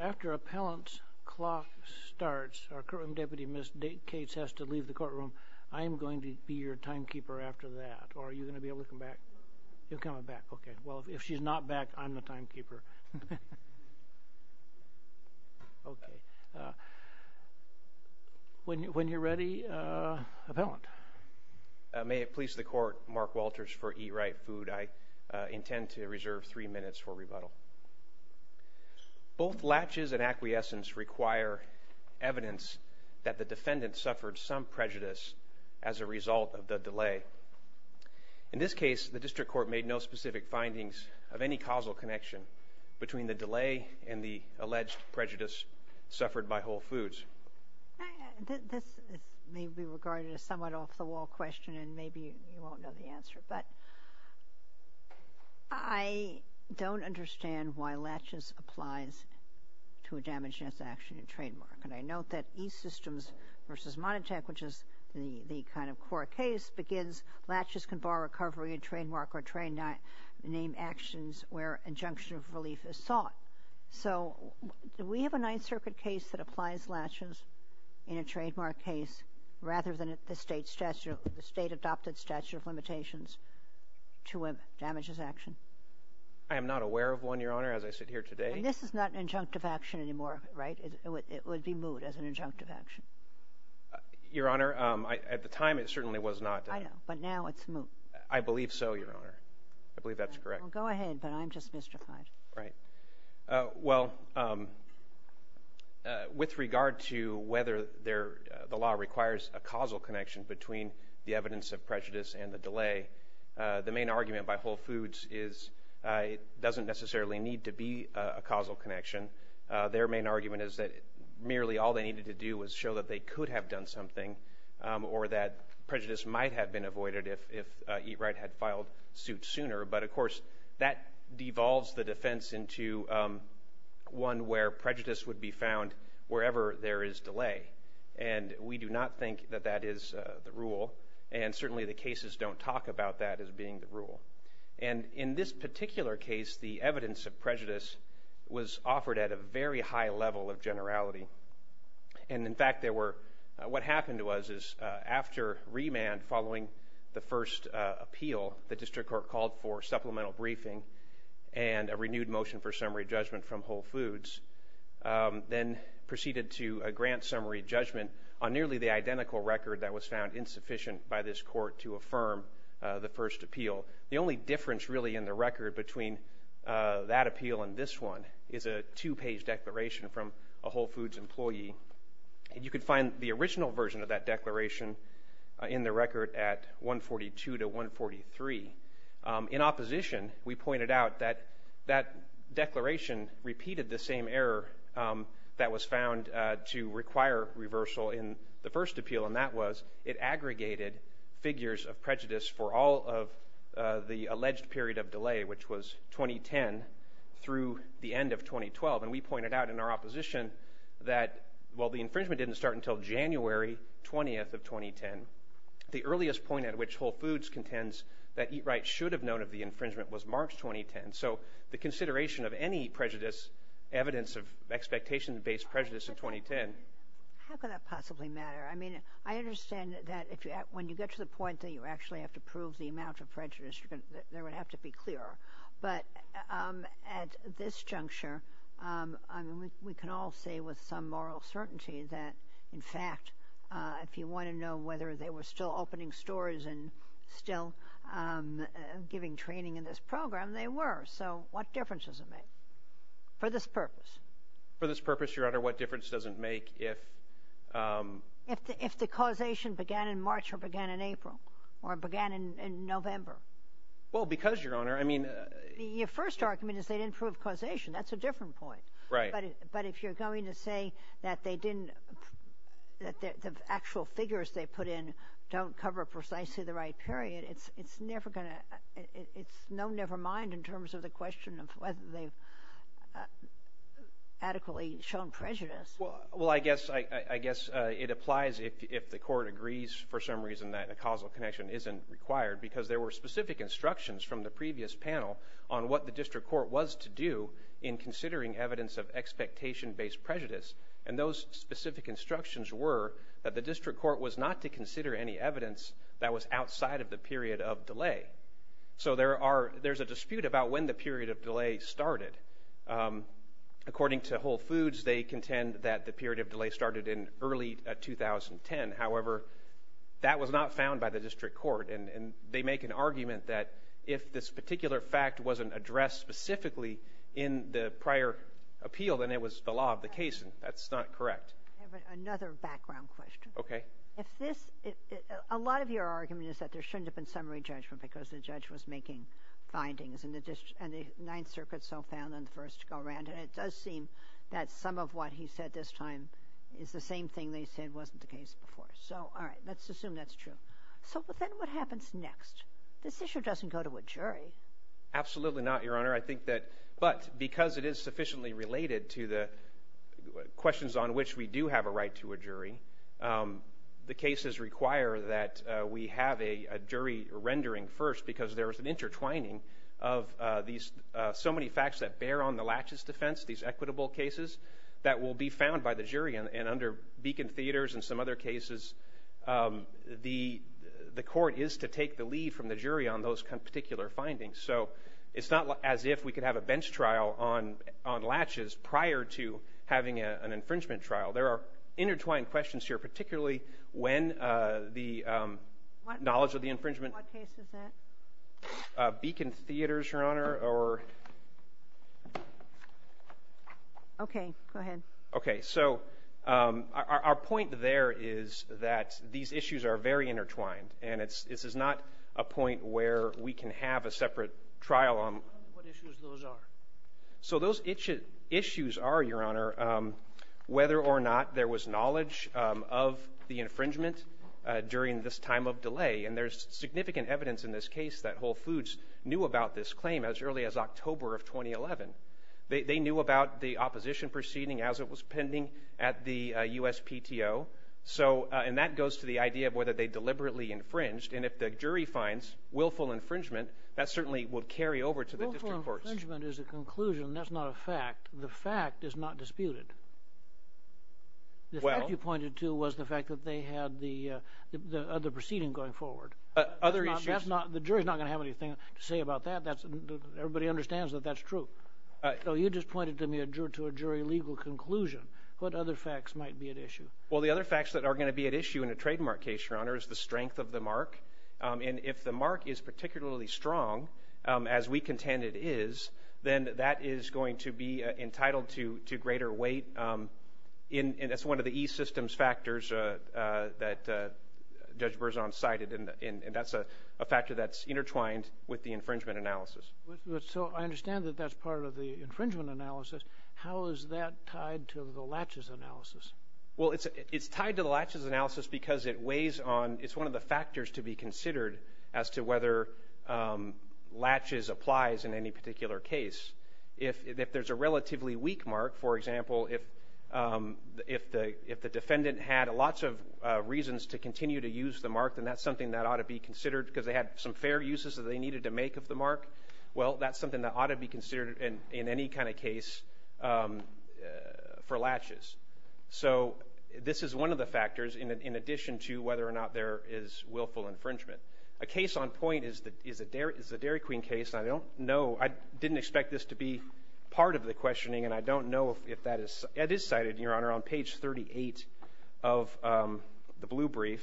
After appellant's clock starts, our current Deputy Ms. Cates has to leave the courtroom. I am going to be your timekeeper after that. Are you going to be able to come back? No. You're coming back. Okay. Well, if she's not back, I'm the timekeeper. When you're ready, appellant. May it please the Court, Mark Walters for Eat Right Food, I intend to reserve 3 minutes for rebuttal. Both latches and acquiescence require evidence that the defendant suffered some prejudice as a result of the delay. In this case, the District Court made no specific findings of any causal connection between the delay and the alleged prejudice suffered by Whole Foods. This may be regarded as a somewhat off-the-wall question, and maybe you won't know the answer, but I don't understand why latches applies to a damage-ness action in trademark. And I note that E-Systems v. Monitech, which is the kind of court case, begins, latches can bar recovery in trademark or name actions where injunction of relief is sought. So, do we have a Ninth Circuit case that applies latches in a trademark case rather than the state-adopted statute of limitations to a damages action? I am not aware of one, Your Honor, as I sit here today. And this is not an injunctive action anymore, right? It would be moot as an injunctive action. Your Honor, at the time, it certainly was not. I know. But now it's moot. I believe so, Your Honor. I believe that's correct. Well, go ahead. But I'm just mystified. Right. Well, with regard to whether the law requires a causal connection between the evidence of prejudice and the delay, the main argument by Whole Foods is it doesn't necessarily need to be a causal connection. Their main argument is that merely all they needed to do was show that they could have done something or that prejudice might have been avoided if E-Wright had filed suit sooner. But, of course, that devolves the defense into one where prejudice would be found wherever there is delay. And we do not think that that is the rule. And certainly the cases don't talk about that as being the rule. And in this particular case, the evidence of prejudice was offered at a very high level of generality. And, in fact, there were – what happened was is after remand following the first appeal, the district court called for supplemental briefing and a renewed motion for summary judgment from Whole Foods, then proceeded to a grant summary judgment on nearly the identical record that was found insufficient by this court to affirm the first appeal. The only difference, really, in the record between that appeal and this one is a two-page declaration from a Whole Foods employee. You could find the original version of that declaration in the record at 142 to 143. In opposition, we pointed out that that declaration repeated the same error that was found to require reversal in the first appeal, and that was it aggregated figures of prejudice for all of the alleged period of delay, which was 2010 through the end of 2012. And we pointed out in our opposition that, while the infringement didn't start until January 20th of 2010, the earliest point at which Whole Foods contends that Eat Right should have known of the infringement was March 2010. So the consideration of any prejudice, evidence of expectation-based prejudice in 2010 – How can that possibly matter? I mean, I understand that if you – when you get to the point that you actually have to prove the amount of prejudice, there would have to be clearer. But at this juncture, I mean, we can all say with some moral certainty that, in fact, if you want to know whether they were still opening stores and still giving training in this program, they were. So what difference does it make for this purpose? For this purpose, Your Honor, what difference does it make if – If the causation began in March or began in April or began in November? Well, because, Your Honor, I mean – Your first argument is they didn't prove causation. That's a different point. Right. But if you're going to say that they didn't – that the actual figures they put in don't cover precisely the right period, it's never going to – it's no never mind in terms of the question of whether they've adequately shown prejudice. Well, I guess it applies if the Court agrees for some reason that a causal connection isn't required because there were specific instructions from the previous panel on what the district court was to do in considering evidence of expectation-based prejudice. And those specific instructions were that the district court was not to consider any evidence that was outside of the period of delay. So there are – there's a dispute about when the period of delay started. According to Whole Foods, they contend that the period of delay started in early 2010. However, that was not found by the district court. And they make an argument that if this particular fact wasn't addressed specifically in the prior appeal, then it was the law of the case. And that's not correct. I have another background question. Okay. If this – a lot of your argument is that there shouldn't have been summary judgment because the judge was making findings. And the Ninth Circuit so found in the first go-round. And it does seem that some of what he said this time is the same thing they said wasn't the case before. So, all right. Let's assume that's true. So then what happens next? This issue doesn't go to a jury. Absolutely not, Your Honor. I think that – but because it is sufficiently related to the questions on which we do have a right to a jury, the cases require that we have a jury rendering first because there is an intertwining of these – so many facts that bear on the laches defense, these equitable cases, that will be found by the jury. And under Beacon Theaters and some other cases, the court is to take the lead from the jury on those particular findings. So, it's not as if we could have a bench trial on laches prior to having an infringement trial. There are intertwined questions here, particularly when the knowledge of the infringement – What case is that? Beacon Theaters, Your Honor. Or – Okay. Go ahead. Okay. So, our point there is that these issues are very intertwined, and this is not a point where we can have a separate trial on – What issues those are? So, those issues are, Your Honor, whether or not there was knowledge of the infringement during this time of delay. And there's significant evidence in this case that Whole Foods knew about this claim as early as October of 2011. They knew about the opposition proceeding as it was pending at the USPTO. So, and that goes to the idea of whether they deliberately infringed. And if the jury finds willful infringement, that certainly would carry over to the district courts. Willful infringement is a conclusion. That's not a fact. The fact is not disputed. Well – The fact you pointed to was the fact that they had the other proceeding going forward. Other issues – That's not – the jury's not going to have anything to say about that. Everybody understands that that's true. So, you just pointed to a jury legal conclusion. What other facts might be at issue? Well, the other facts that are going to be at issue in a trademark case, Your Honor, is the strength of the mark. And if the mark is particularly strong, as we contend it is, then that is going to be entitled to greater weight. And that's one of the e-systems factors that Judge Berzon cited. And that's a factor that's intertwined with the infringement analysis. So, I understand that that's part of the infringement analysis. How is that tied to the latches analysis? Well, it's tied to the latches analysis because it weighs on – it's one of the factors to be considered as to whether latches applies in any particular case. If there's a relatively weak mark, for example, if the defendant had lots of reasons to continue to use the mark, then that's something that ought to be considered because they had some fair uses that they needed to make of the mark. Well, that's something that ought to be considered in any kind of case for latches. So, this is one of the factors in addition to whether or not there is willful infringement. A case on point is the Dairy Queen case. I don't know – I didn't expect this to be part of the questioning, and I don't know if that is – it is cited, Your Honor, on page 38 of the blue brief.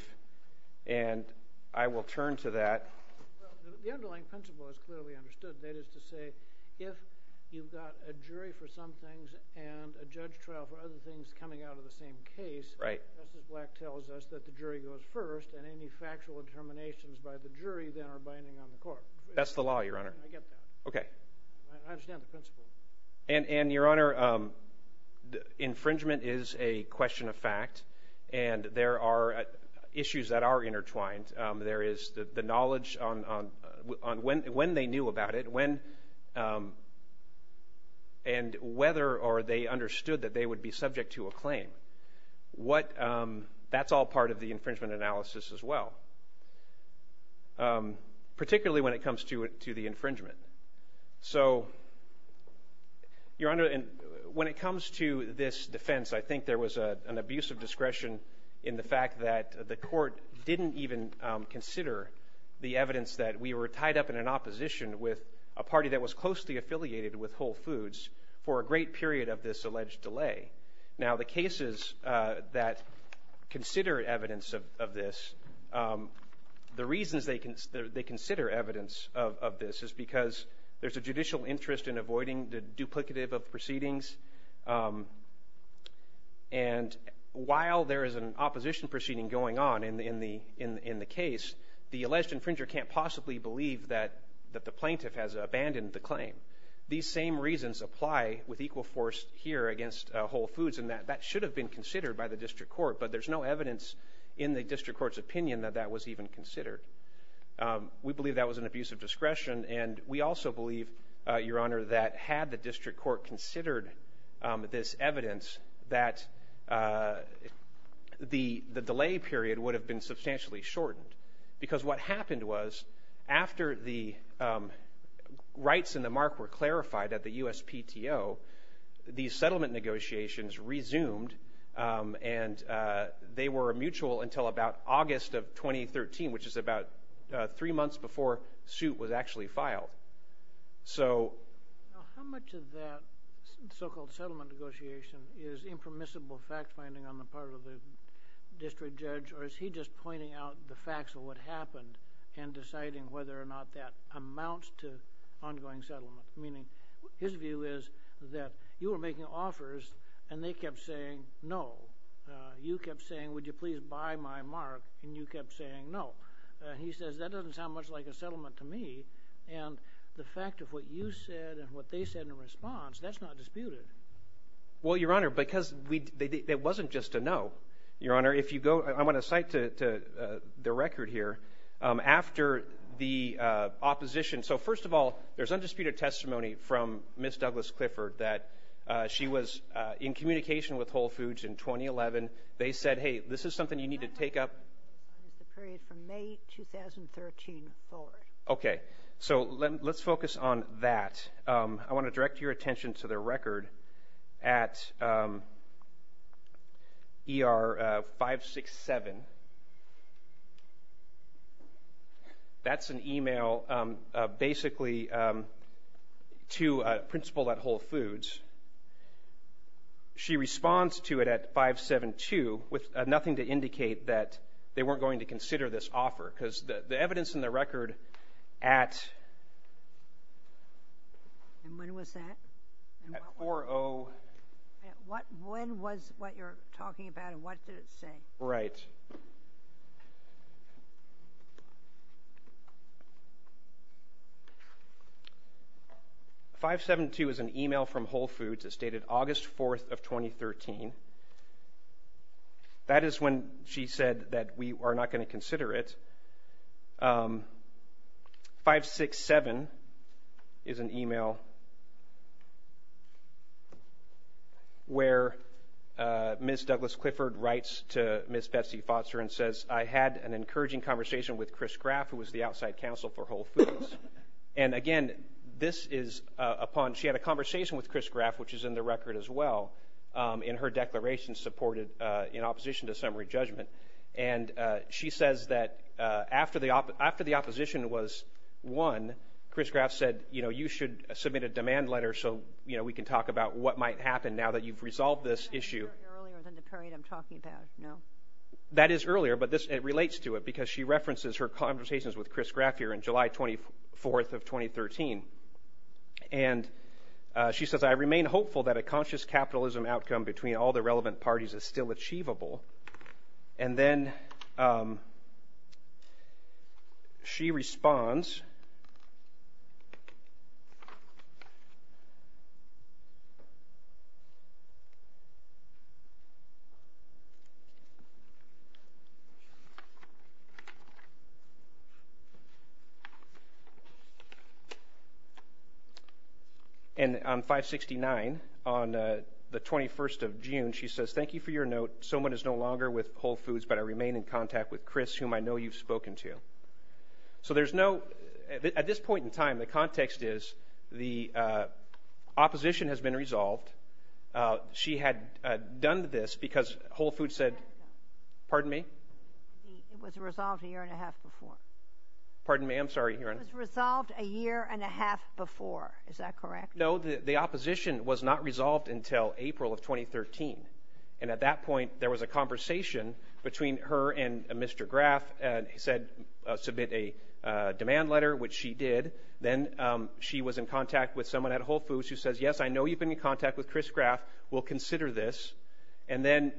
And I will turn to that. The underlying principle is clearly understood. That is to say, if you've got a jury for some things and a judge trial for other things coming out of the same case, Justice Black tells us that the jury goes first, and any factual determinations by the jury then are binding on the court. That's the law, Your Honor. I get that. Okay. I understand the principle. And, Your Honor, infringement is a question of fact, and there are issues that are intertwined. There is the knowledge on when they knew about it, and whether or they understood that they would be subject to a claim. That's all part of the infringement analysis as well, particularly when it comes to the infringement. So, Your Honor, when it comes to this defense, I think there was an abuse of discretion in the fact that the court didn't even consider the evidence that we were tied up in an opposition with a party that was closely affiliated with Whole Foods for a great period of this alleged delay. Now, the cases that consider evidence of this, the reasons they consider evidence of this is because there's a judicial interest in avoiding the duplicative of proceedings. And while there is an opposition proceeding going on in the case, the alleged infringer can't possibly believe that the plaintiff has abandoned the claim. These same reasons apply with equal force here against Whole Foods, and that should have been considered by the district court, but there's no evidence in the district court's opinion that that was even considered. We believe that was an abuse of discretion, and we also believe, Your Honor, that had the district court considered this evidence, that the delay period would have been substantially shortened, because what happened was after the rights in the mark were clarified at the USPTO, these settlement negotiations resumed, and they were mutual until about August of 2013, which is about three months before suit was actually filed. So how much of that so-called settlement negotiation is impermissible fact-finding on the part of the district judge, or is he just pointing out the facts of what happened and deciding whether or not that amounts to ongoing settlement? Meaning his view is that you were making offers, and they kept saying no. You kept saying, would you please buy my mark, and you kept saying no. He says that doesn't sound much like a settlement to me, and the fact of what you said and what they said in response, that's not disputed. Well, Your Honor, because it wasn't just a no. Your Honor, I'm going to cite the record here. After the opposition, so first of all, there's undisputed testimony from Ms. Douglas Clifford that she was in communication with Whole Foods in 2011. They said, hey, this is something you need to take up. The period from May 2013 forward. Okay, so let's focus on that. I want to direct your attention to the record at ER 567. That's an email basically to a principal at Whole Foods. She responds to it at 572 with nothing to indicate that they weren't going to consider this offer because the evidence in the record at 4-0. When was what you're talking about, and what did it say? Right. 572 is an email from Whole Foods that stated August 4th of 2013. That is when she said that we are not going to consider it. 567 is an email where Ms. Douglas Clifford writes to Ms. Betsy Foster and says, I had an encouraging conversation with Chris Graff, who was the outside counsel for Whole Foods. And again, this is upon, she had a conversation with Chris Graff, which is in the record as well, in her declaration supported in opposition to summary judgment. And she says that after the opposition was won, Chris Graff said, you know, you should submit a demand letter so we can talk about what might happen now that you've resolved this issue. That's earlier than the period I'm talking about, no? That is earlier, but it relates to it because she references her conversations with Chris Graff here in July 24th of 2013. And she says, I remain hopeful that a conscious capitalism outcome between all the relevant parties is still achievable. And then she responds. And on 569, on the 21st of June, she says, thank you for your note. So much is no longer with Whole Foods, but I remain in contact with Chris, whom I know you've spoken to. So there's no, at this point in time, the context is the opposition has been resolved. She had done this because Whole Foods said, pardon me? It was resolved a year and a half before. Pardon me, I'm sorry. It was resolved a year and a half before, is that correct? No, the opposition was not resolved until April of 2013. And at that point, there was a conversation between her and Mr. Graff. He said, submit a demand letter, which she did. Then she was in contact with someone at Whole Foods who says, yes, I know you've been in contact with Chris Graff. We'll consider this. And then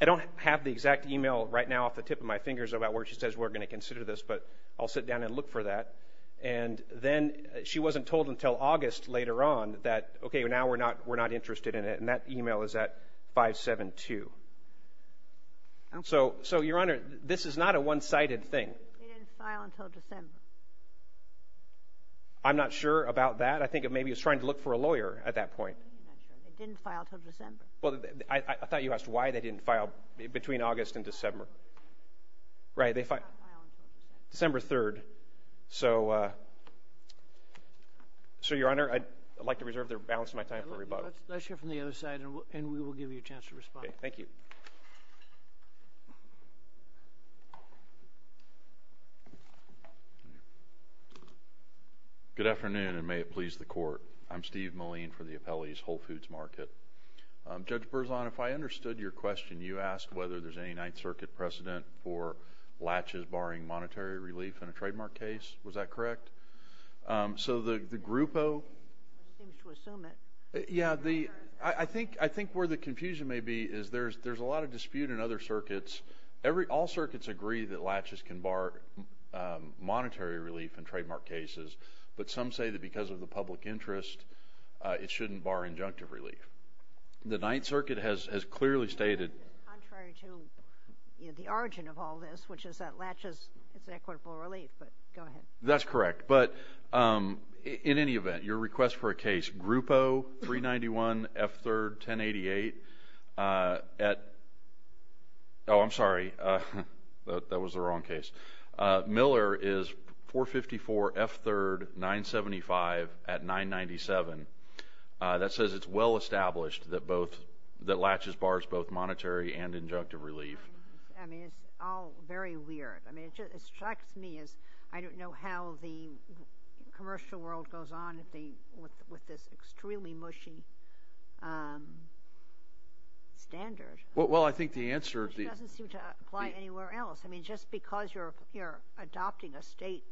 I don't have the exact email right now off the tip of my fingers about where she says we're going to consider this, but I'll sit down and look for that. And then she wasn't told until August later on that, okay, now we're not interested in it. And that email is at 572. So, Your Honor, this is not a one-sided thing. They didn't file until December. I'm not sure about that. I think maybe it was trying to look for a lawyer at that point. They didn't file until December. Well, I thought you asked why they didn't file between August and December. Right, they filed December 3rd. Let's hear from the other side, and we will give you a chance to respond. Thank you. Good afternoon, and may it please the Court. I'm Steve Moline for the Appellee's Whole Foods Market. Judge Berzon, if I understood your question, you asked whether there's any Ninth Circuit precedent for latches barring monetary relief in a trademark case. Was that correct? So the Grupo? Seems to assume it. Yeah, I think where the confusion may be is there's a lot of dispute in other circuits. All circuits agree that latches can bar monetary relief in trademark cases, but some say that because of the public interest, it shouldn't bar injunctive relief. The Ninth Circuit has clearly stated. Contrary to the origin of all this, which is that latches, it's equitable relief, but go ahead. That's correct. But in any event, your request for a case, Grupo 391 F3rd 1088 at – oh, I'm sorry. That was the wrong case. Miller is 454 F3rd 975 at 997. That says it's well established that latches bars both monetary and injunctive relief. I mean, it's all very weird. I mean, it strikes me as I don't know how the commercial world goes on with this extremely mushy standard. Well, I think the answer – Which doesn't seem to apply anywhere else. I mean, just because you're adopting a state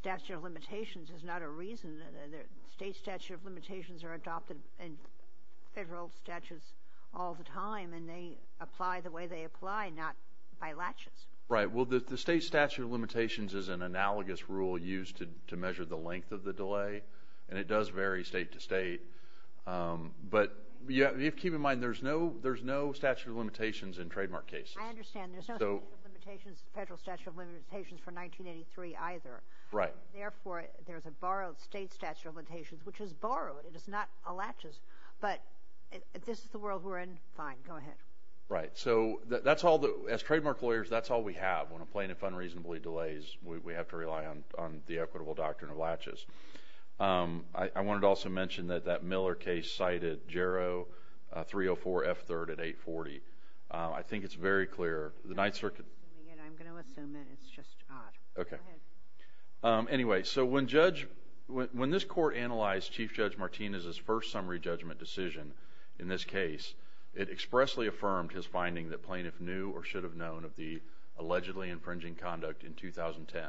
statute of limitations is not a reason. State statute of limitations are adopted in federal statutes all the time, and they apply the way they apply, not by latches. Right. Well, the state statute of limitations is an analogous rule used to measure the length of the delay, and it does vary state to state. But you have to keep in mind there's no statute of limitations in trademark cases. I understand. There's no statute of limitations, federal statute of limitations for 1983 either. Right. Therefore, there's a borrowed state statute of limitations, which is borrowed. It is not a latches. But this is the world we're in. Fine. Go ahead. Right. So that's all the – as trademark lawyers, that's all we have. When a plaintiff unreasonably delays, we have to rely on the equitable doctrine of latches. I wanted to also mention that that Miller case cited JARO 304F3rd at 840. I think it's very clear. The Ninth Circuit – I'm going to assume it. It's just odd. Okay. Go ahead. Anyway, so when this court analyzed Chief Judge Martinez's first summary judgment decision in this case, it expressly affirmed his finding that plaintiff knew or should have known of the allegedly infringing conduct in 2010.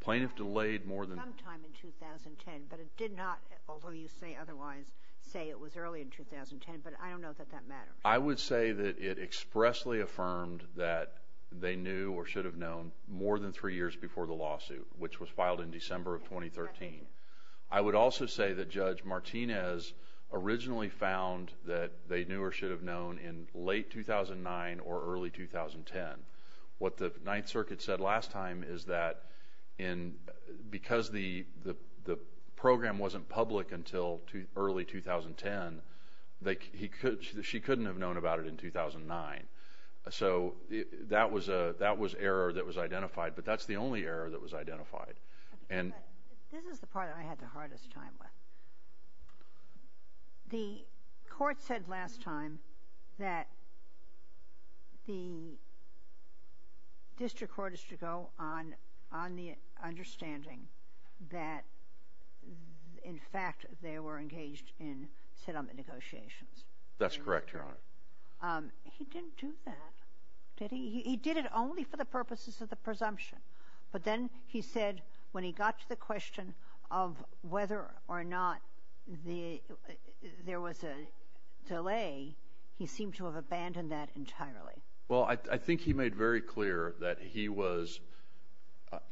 Plaintiff delayed more than – Sometime in 2010, but it did not, although you say otherwise, say it was early in 2010. But I don't know that that matters. I would say that it expressly affirmed that they knew or should have known more than three years before the lawsuit, which was filed in December of 2013. I would also say that Judge Martinez originally found that they knew or should have known in late 2009 or early 2010. What the Ninth Circuit said last time is that because the program wasn't public until early 2010, she couldn't have known about it in 2009. So that was error that was identified, but that's the only error that was identified. This is the part that I had the hardest time with. The court said last time that the district court is to go on the understanding that, in fact, they were engaged in settlement negotiations. That's correct, Your Honor. He didn't do that, did he? He did it only for the purposes of the presumption. But then he said when he got to the question of whether or not there was a delay, he seemed to have abandoned that entirely. Well, I think he made very clear that he was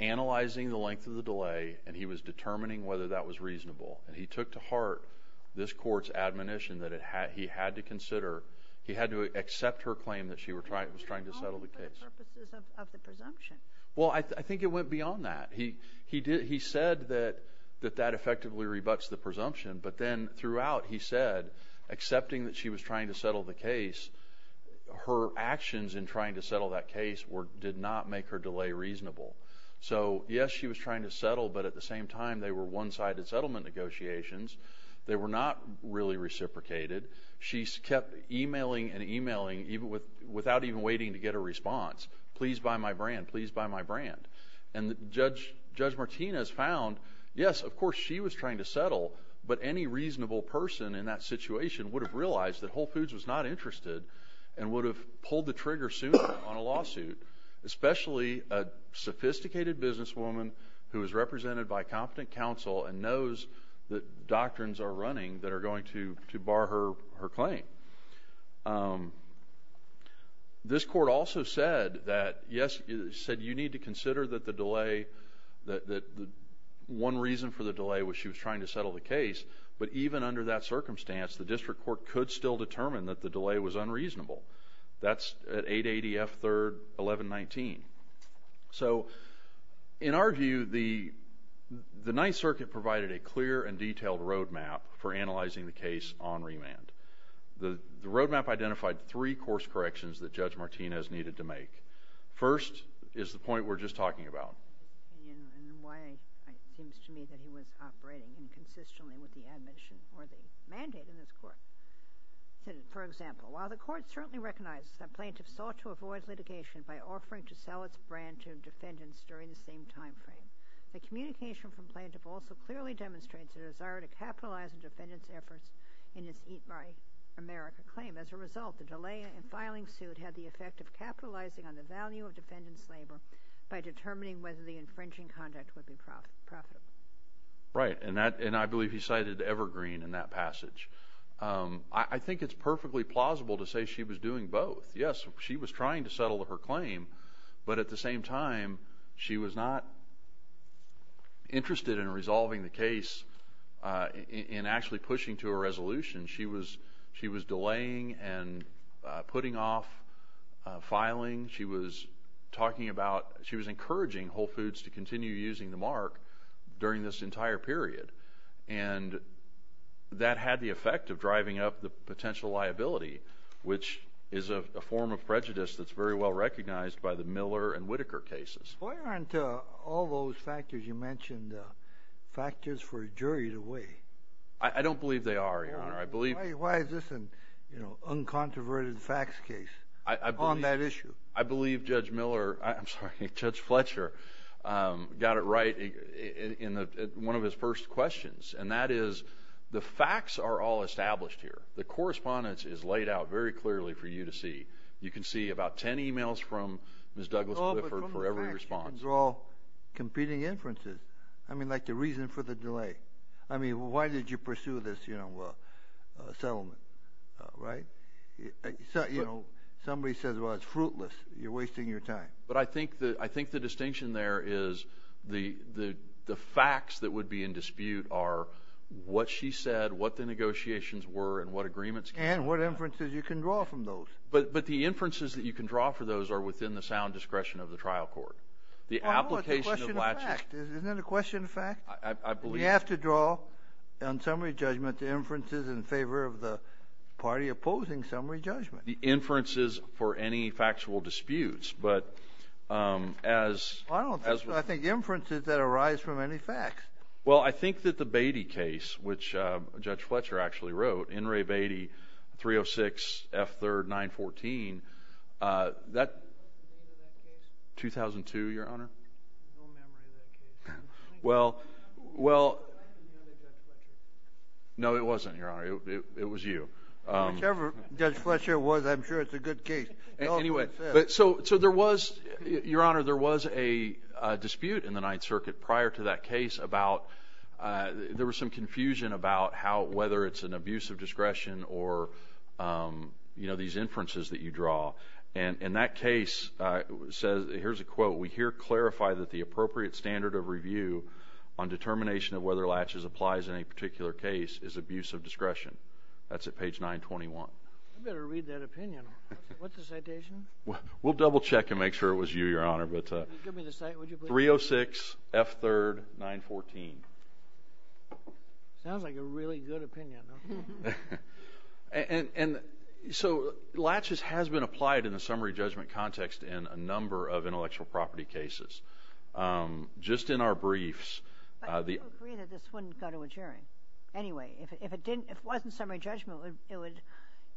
analyzing the length of the delay and he was determining whether that was reasonable. And he took to heart this court's admonition that he had to consider – he had to accept her claim that she was trying to settle the case. Only for the purposes of the presumption. Well, I think it went beyond that. He said that that effectively rebuts the presumption, but then throughout he said accepting that she was trying to settle the case, her actions in trying to settle that case did not make her delay reasonable. So, yes, she was trying to settle, but at the same time they were one-sided settlement negotiations. They were not really reciprocated. She kept emailing and emailing without even waiting to get a response. Please buy my brand. Please buy my brand. And Judge Martinez found, yes, of course she was trying to settle, but any reasonable person in that situation would have realized that Whole Foods was not interested and would have pulled the trigger sooner on a lawsuit, especially a sophisticated businesswoman who is represented by competent counsel and knows that doctrines are running that are going to bar her claim. This court also said that, yes, it said you need to consider that the delay – that one reason for the delay was she was trying to settle the case, but even under that circumstance the district court could still determine that the delay was unreasonable. That's at 880 F. 3rd 1119. So, in our view, the Ninth Circuit provided a clear and detailed roadmap for analyzing the case on remand. The roadmap identified three course corrections that Judge Martinez needed to make. First is the point we're just talking about. Why it seems to me that he was operating inconsistently with the admission or the mandate in this court. For example, while the court certainly recognizes that plaintiffs sought to avoid litigation by offering to sell its brand to defendants during the same time frame, the communication from plaintiff also clearly demonstrates a desire to capitalize on defendants' efforts in its Eat Right America claim. As a result, the delay in filing suit had the effect of capitalizing on the value of defendants' labor by determining whether the infringing conduct would be profitable. Right, and I believe he cited Evergreen in that passage. I think it's perfectly plausible to say she was doing both. Yes, she was trying to settle her claim, but at the same time, she was not interested in resolving the case in actually pushing to a resolution. She was delaying and putting off filing. She was encouraging Whole Foods to continue using the mark during this entire period, and that had the effect of driving up the potential liability, which is a form of prejudice that's very well recognized by the Miller and Whitaker cases. Why aren't all those factors you mentioned factors for a jury to weigh? I don't believe they are, Your Honor. Why is this an uncontroverted facts case on that issue? I believe Judge Miller, I'm sorry, Judge Fletcher got it right in one of his first questions, and that is the facts are all established here. The correspondence is laid out very clearly for you to see. You can see about 10 emails from Ms. Douglas-Clifford for every response. But from the facts, you can draw competing inferences, I mean, like the reason for the delay. I mean, why did you pursue this, you know, settlement, right? You know, somebody says, well, it's fruitless. You're wasting your time. But I think the distinction there is the facts that would be in dispute are what she said, what the negotiations were, and what agreements came out. And what inferences you can draw from those. But the inferences that you can draw from those are within the sound discretion of the trial court. Oh, no, it's a question of fact. Isn't it a question of fact? You have to draw, on summary judgment, the inferences in favor of the party opposing summary judgment. The inferences for any factual disputes. But as— I think inferences that arise from any facts. Well, I think that the Beatty case, which Judge Fletcher actually wrote, N. Ray Beatty, 306 F. 3rd, 914, that— What was the name of that case? 2002, Your Honor. No memory of that case. Well, well— No, it wasn't, Your Honor. It was you. Whichever Judge Fletcher was, I'm sure it's a good case. Anyway, so there was, Your Honor, there was a dispute in the Ninth Circuit prior to that case about— there was some confusion about whether it's an abuse of discretion or, you know, these inferences that you draw. And that case says—here's a quote. Well, we here clarify that the appropriate standard of review on determination of whether Latches applies in a particular case is abuse of discretion. That's at page 921. I better read that opinion. What's the citation? We'll double-check and make sure it was you, Your Honor. Give me the citation, would you please? 306 F. 3rd, 914. Sounds like a really good opinion. And so Latches has been applied in the summary judgment context in a number of intellectual property cases. Just in our briefs— But you agree that this wouldn't go to a jury. Anyway, if it didn't—if it wasn't summary judgment, it would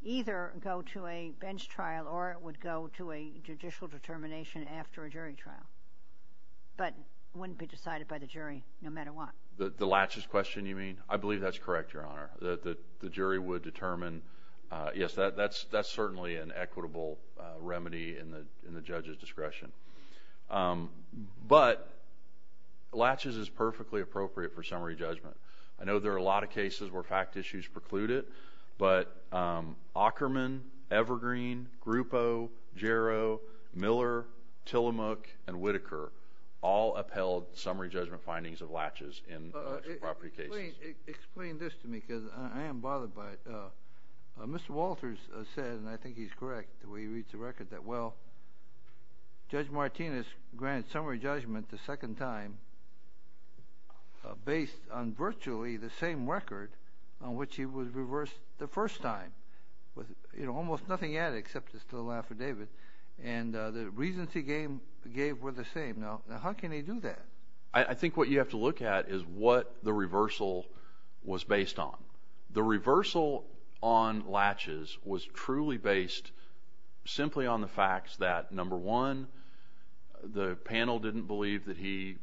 either go to a bench trial or it would go to a judicial determination after a jury trial. But it wouldn't be decided by the jury no matter what. The Latches question, you mean? I believe that's correct, Your Honor, that the jury would determine, yes, that's certainly an equitable remedy in the judge's discretion. But Latches is perfectly appropriate for summary judgment. I know there are a lot of cases where fact issues preclude it, but Ackerman, Evergreen, Grupo, Jarrow, Miller, Tillamook, and Whitaker all upheld summary judgment findings of Latches in intellectual property cases. Explain this to me because I am bothered by it. Mr. Walters said, and I think he's correct the way he reads the record, that, well, Judge Martinez granted summary judgment the second time based on virtually the same record on which he was reversed the first time. You know, almost nothing added except this little affidavit. And the reasons he gave were the same. Now, how can he do that? I think what you have to look at is what the reversal was based on. The reversal on Latches was truly based simply on the facts that, number one, the panel didn't believe that he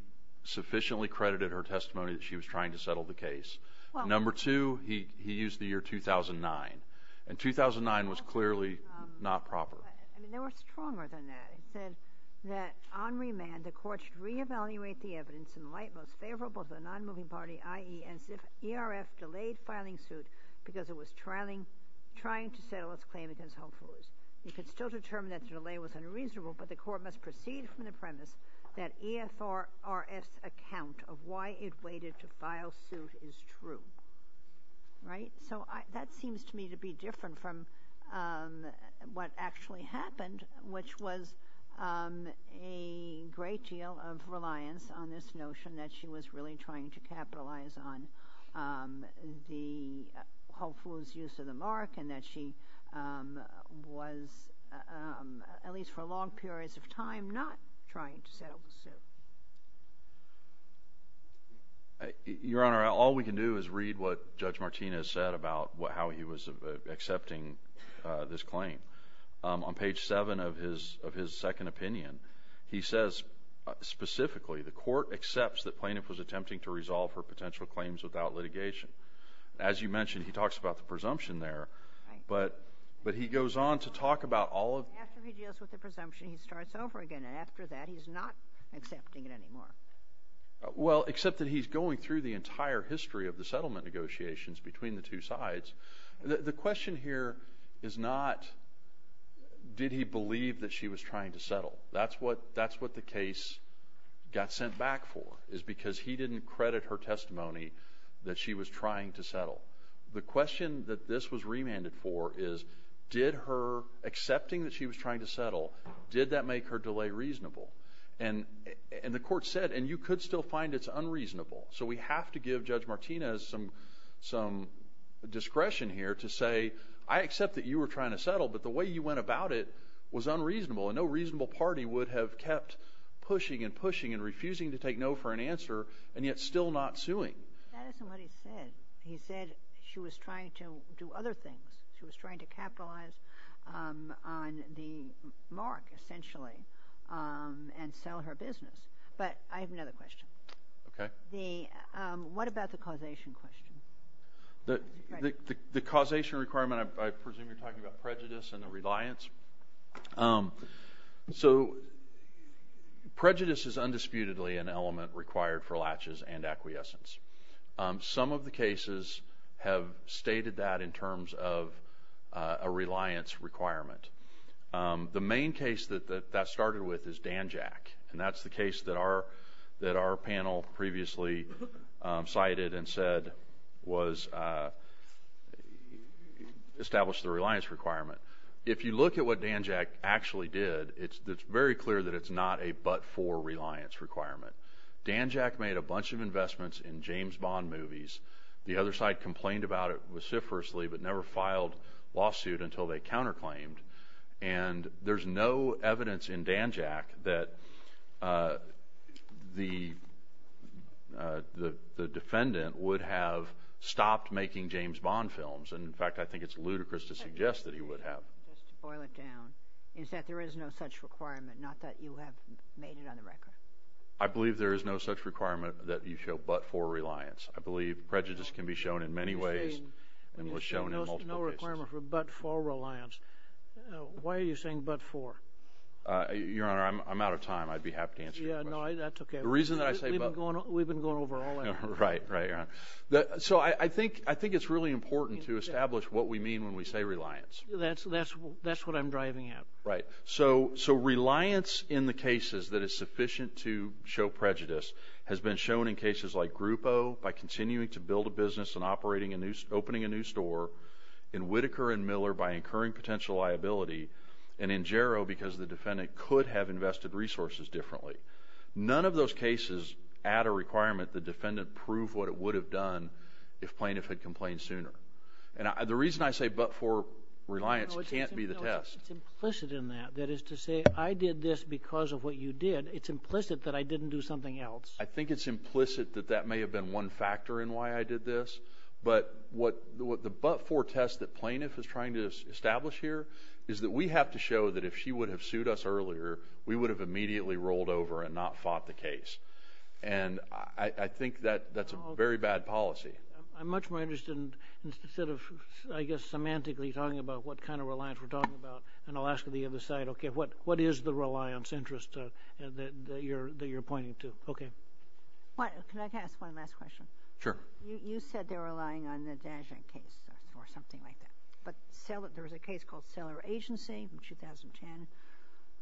sufficiently credited her testimony that she was trying to settle the case. Number two, he used the year 2009, and 2009 was clearly not proper. I mean, they were stronger than that. It said that, on remand, the court should reevaluate the evidence in light most favorable to the nonmoving party, i.e., as if ERF delayed filing suit because it was trying to settle its claim against homefoolers. It could still determine that the delay was unreasonable, but the court must proceed from the premise that ERF's account of why it waited to file suit is true. Right? So that seems to me to be different from what actually happened, which was a great deal of reliance on this notion that she was really trying to capitalize on the homefooler's use of the mark and that she was, at least for long periods of time, not trying to settle the suit. Your Honor, all we can do is read what Judge Martinez said about how he was accepting this claim. On page 7 of his second opinion, he says, specifically, the court accepts that Plaintiff was attempting to resolve her potential claims without litigation. As you mentioned, he talks about the presumption there, but he goes on to talk about all of… After he deals with the presumption, he starts over again, and after that, he's not accepting it anymore. Well, except that he's going through the entire history of the settlement negotiations between the two sides. The question here is not, did he believe that she was trying to settle? That's what the case got sent back for, is because he didn't credit her testimony that she was trying to settle. The question that this was remanded for is, did her accepting that she was trying to settle, did that make her delay reasonable? And the court said, and you could still find it's unreasonable, so we have to give Judge Martinez some discretion here to say, I accept that you were trying to settle, but the way you went about it was unreasonable, and no reasonable party would have kept pushing and pushing and refusing to take no for an answer and yet still not suing. That isn't what he said. He said she was trying to do other things. She was trying to capitalize on the mark, essentially, and sell her business. But I have another question. Okay. What about the causation question? The causation requirement, I presume you're talking about prejudice and the reliance? So prejudice is undisputedly an element required for latches and acquiescence. Some of the cases have stated that in terms of a reliance requirement. The main case that that started with is Danjack, and that's the case that our panel previously cited and said established the reliance requirement. If you look at what Danjack actually did, it's very clear that it's not a but-for reliance requirement. Danjack made a bunch of investments in James Bond movies. The other side complained about it vociferously but never filed lawsuit until they counterclaimed. And there's no evidence in Danjack that the defendant would have stopped making James Bond films. And, in fact, I think it's ludicrous to suggest that he would have. Just to boil it down, is that there is no such requirement, not that you have made it on the record? I believe there is no such requirement that you show but-for reliance. I believe prejudice can be shown in many ways and was shown in multiple cases. No requirement for but-for reliance. Why are you saying but-for? Your Honor, I'm out of time. I'd be happy to answer your question. Yeah, no, that's okay. The reason that I say but- We've been going over all that. Right, right, Your Honor. So I think it's really important to establish what we mean when we say reliance. That's what I'm driving at. Right. So reliance in the cases that is sufficient to show prejudice has been shown in cases like Grupo by continuing to build a business and opening a new store, in Whitaker and Miller by incurring potential liability, and in Jarrow because the defendant could have invested resources differently. None of those cases add a requirement the defendant prove what it would have done if plaintiff had complained sooner. And the reason I say but-for reliance can't be the test. No, it's implicit in that. That is to say I did this because of what you did. It's implicit that I didn't do something else. I think it's implicit that that may have been one factor in why I did this. But the but-for test that plaintiff is trying to establish here is that we have to show that if she would have sued us earlier, we would have immediately rolled over and not fought the case. And I think that's a very bad policy. I'm much more interested in sort of, I guess, semantically talking about what kind of reliance we're talking about. And I'll ask the other side, okay, what is the reliance interest that you're pointing to? Okay. Can I ask one last question? Sure. You said they're relying on the Dagen case or something like that. But there was a case called Cellar Agency in 2010.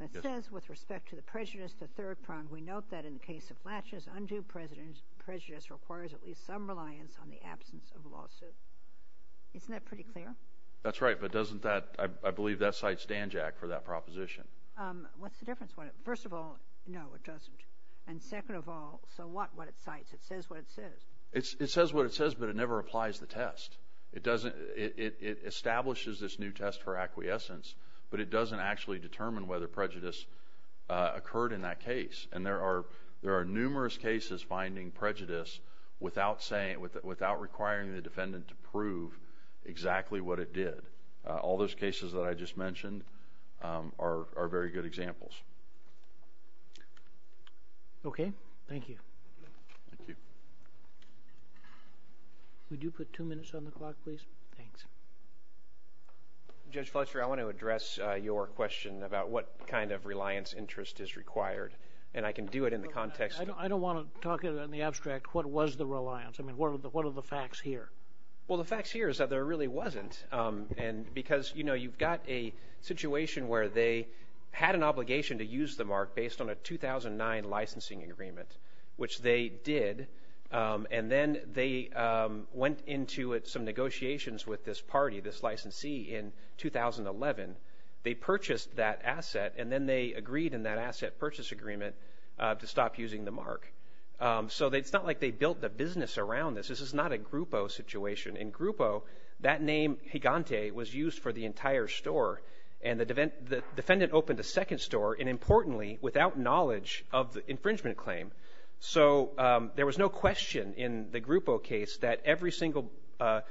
It says with respect to the prejudice, the third prong, we note that in the case of Latches, undue prejudice requires at least some reliance on the absence of a lawsuit. Isn't that pretty clear? That's right, but doesn't that, I believe that cites Dan Jack for that proposition. What's the difference? First of all, no, it doesn't. And second of all, so what it cites? It says what it says. It says what it says, but it never applies the test. It establishes this new test for acquiescence, but it doesn't actually determine whether prejudice occurred in that case. And there are numerous cases finding prejudice without requiring the defendant to prove exactly what it did. All those cases that I just mentioned are very good examples. Okay. Thank you. Thank you. Would you put two minutes on the clock, please? Thanks. Judge Fletcher, I want to address your question about what kind of reliance interest is required, and I can do it in the context of the- I don't want to talk in the abstract what was the reliance. I mean, what are the facts here? Well, the facts here is that there really wasn't, because, you know, you've got a situation where they had an obligation to use the mark based on a 2009 licensing agreement, which they did, and then they went into some negotiations with this party, this licensee, in 2011. They purchased that asset, and then they agreed in that asset purchase agreement to stop using the mark. So it's not like they built the business around this. This is not a Grupo situation. In Grupo, that name, Gigante, was used for the entire store, and the defendant opened a second store, and importantly, without knowledge of the infringement claim. So there was no question in the Grupo case that every single-that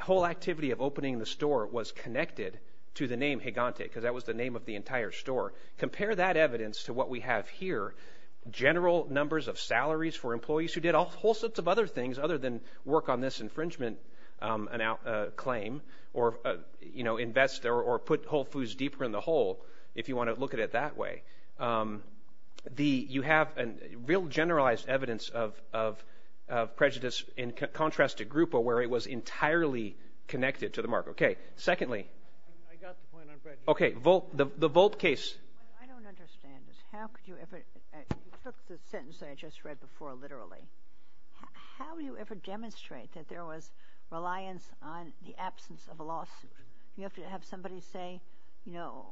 whole activity of opening the store was connected to the name Gigante, because that was the name of the entire store. Compare that evidence to what we have here, general numbers of salaries for employees who did all sorts of other things, other than work on this infringement claim, or, you know, invest or put Whole Foods deeper in the hole, if you want to look at it that way. You have real generalized evidence of prejudice in contrast to Grupo, where it was entirely connected to the mark. Okay. Secondly. I got the point on prejudice. Okay. The Volt case. I don't understand this. How could you ever-you took the sentence that I just read before literally. How do you ever demonstrate that there was reliance on the absence of a lawsuit? Do you have to have somebody say, you know,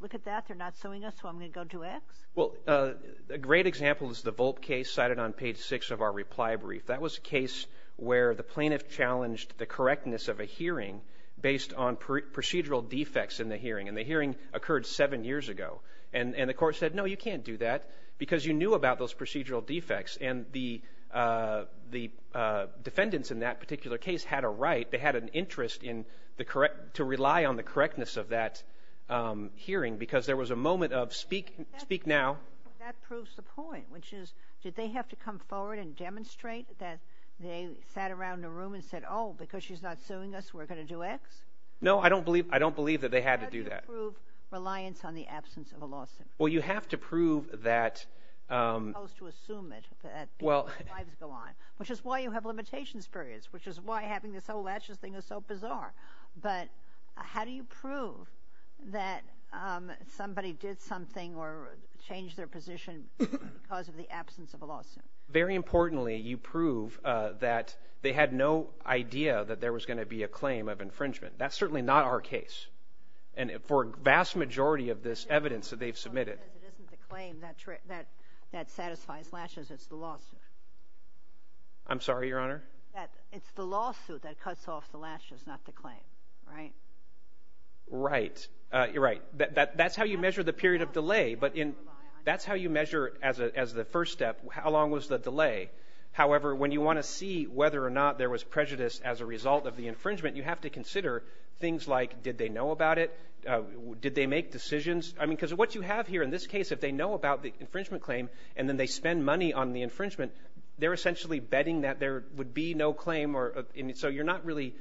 look at that, they're not suing us, so I'm going to go to X? Well, a great example is the Volt case cited on page six of our reply brief. That was a case where the plaintiff challenged the correctness of a hearing based on procedural defects in the hearing, and the hearing occurred seven years ago. And the court said, no, you can't do that, because you knew about those procedural defects, and the defendants in that particular case had a right, they had an interest to rely on the correctness of that hearing, because there was a moment of speak now. That proves the point, which is, did they have to come forward and demonstrate that they sat around the room and said, oh, because she's not suing us, we're going to do X? No, I don't believe that they had to do that. How do you prove reliance on the absence of a lawsuit? Well, you have to prove that. You're supposed to assume it, that lives go on, which is why you have limitations periods, which is why having this whole latches thing is so bizarre. But how do you prove that somebody did something or changed their position because of the absence of a lawsuit? Very importantly, you prove that they had no idea that there was going to be a claim of infringement. That's certainly not our case. And for a vast majority of this evidence that they've submitted. It isn't the claim that satisfies latches, it's the lawsuit. I'm sorry, Your Honor? It's the lawsuit that cuts off the latches, not the claim, right? Right. You're right. That's how you measure the period of delay, but that's how you measure as the first step, how long was the delay. However, when you want to see whether or not there was prejudice as a result of the infringement, you have to consider things like did they know about it? Did they make decisions? I mean, because what you have here in this case, if they know about the infringement claim and then they spend money on the infringement, they're essentially betting that there would be no claim. So you're not really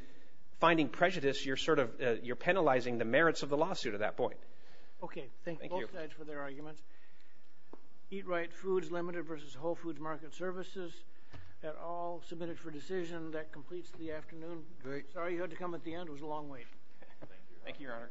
finding prejudice. You're sort of penalizing the merits of the lawsuit at that point. Okay. Thank you. Both sides for their arguments. Eat Right Foods Limited versus Whole Foods Market Services. That all submitted for decision. That completes the afternoon. Sorry you had to come at the end. It was a long wait. Thank you, Your Honor. Thank you, Your Honor.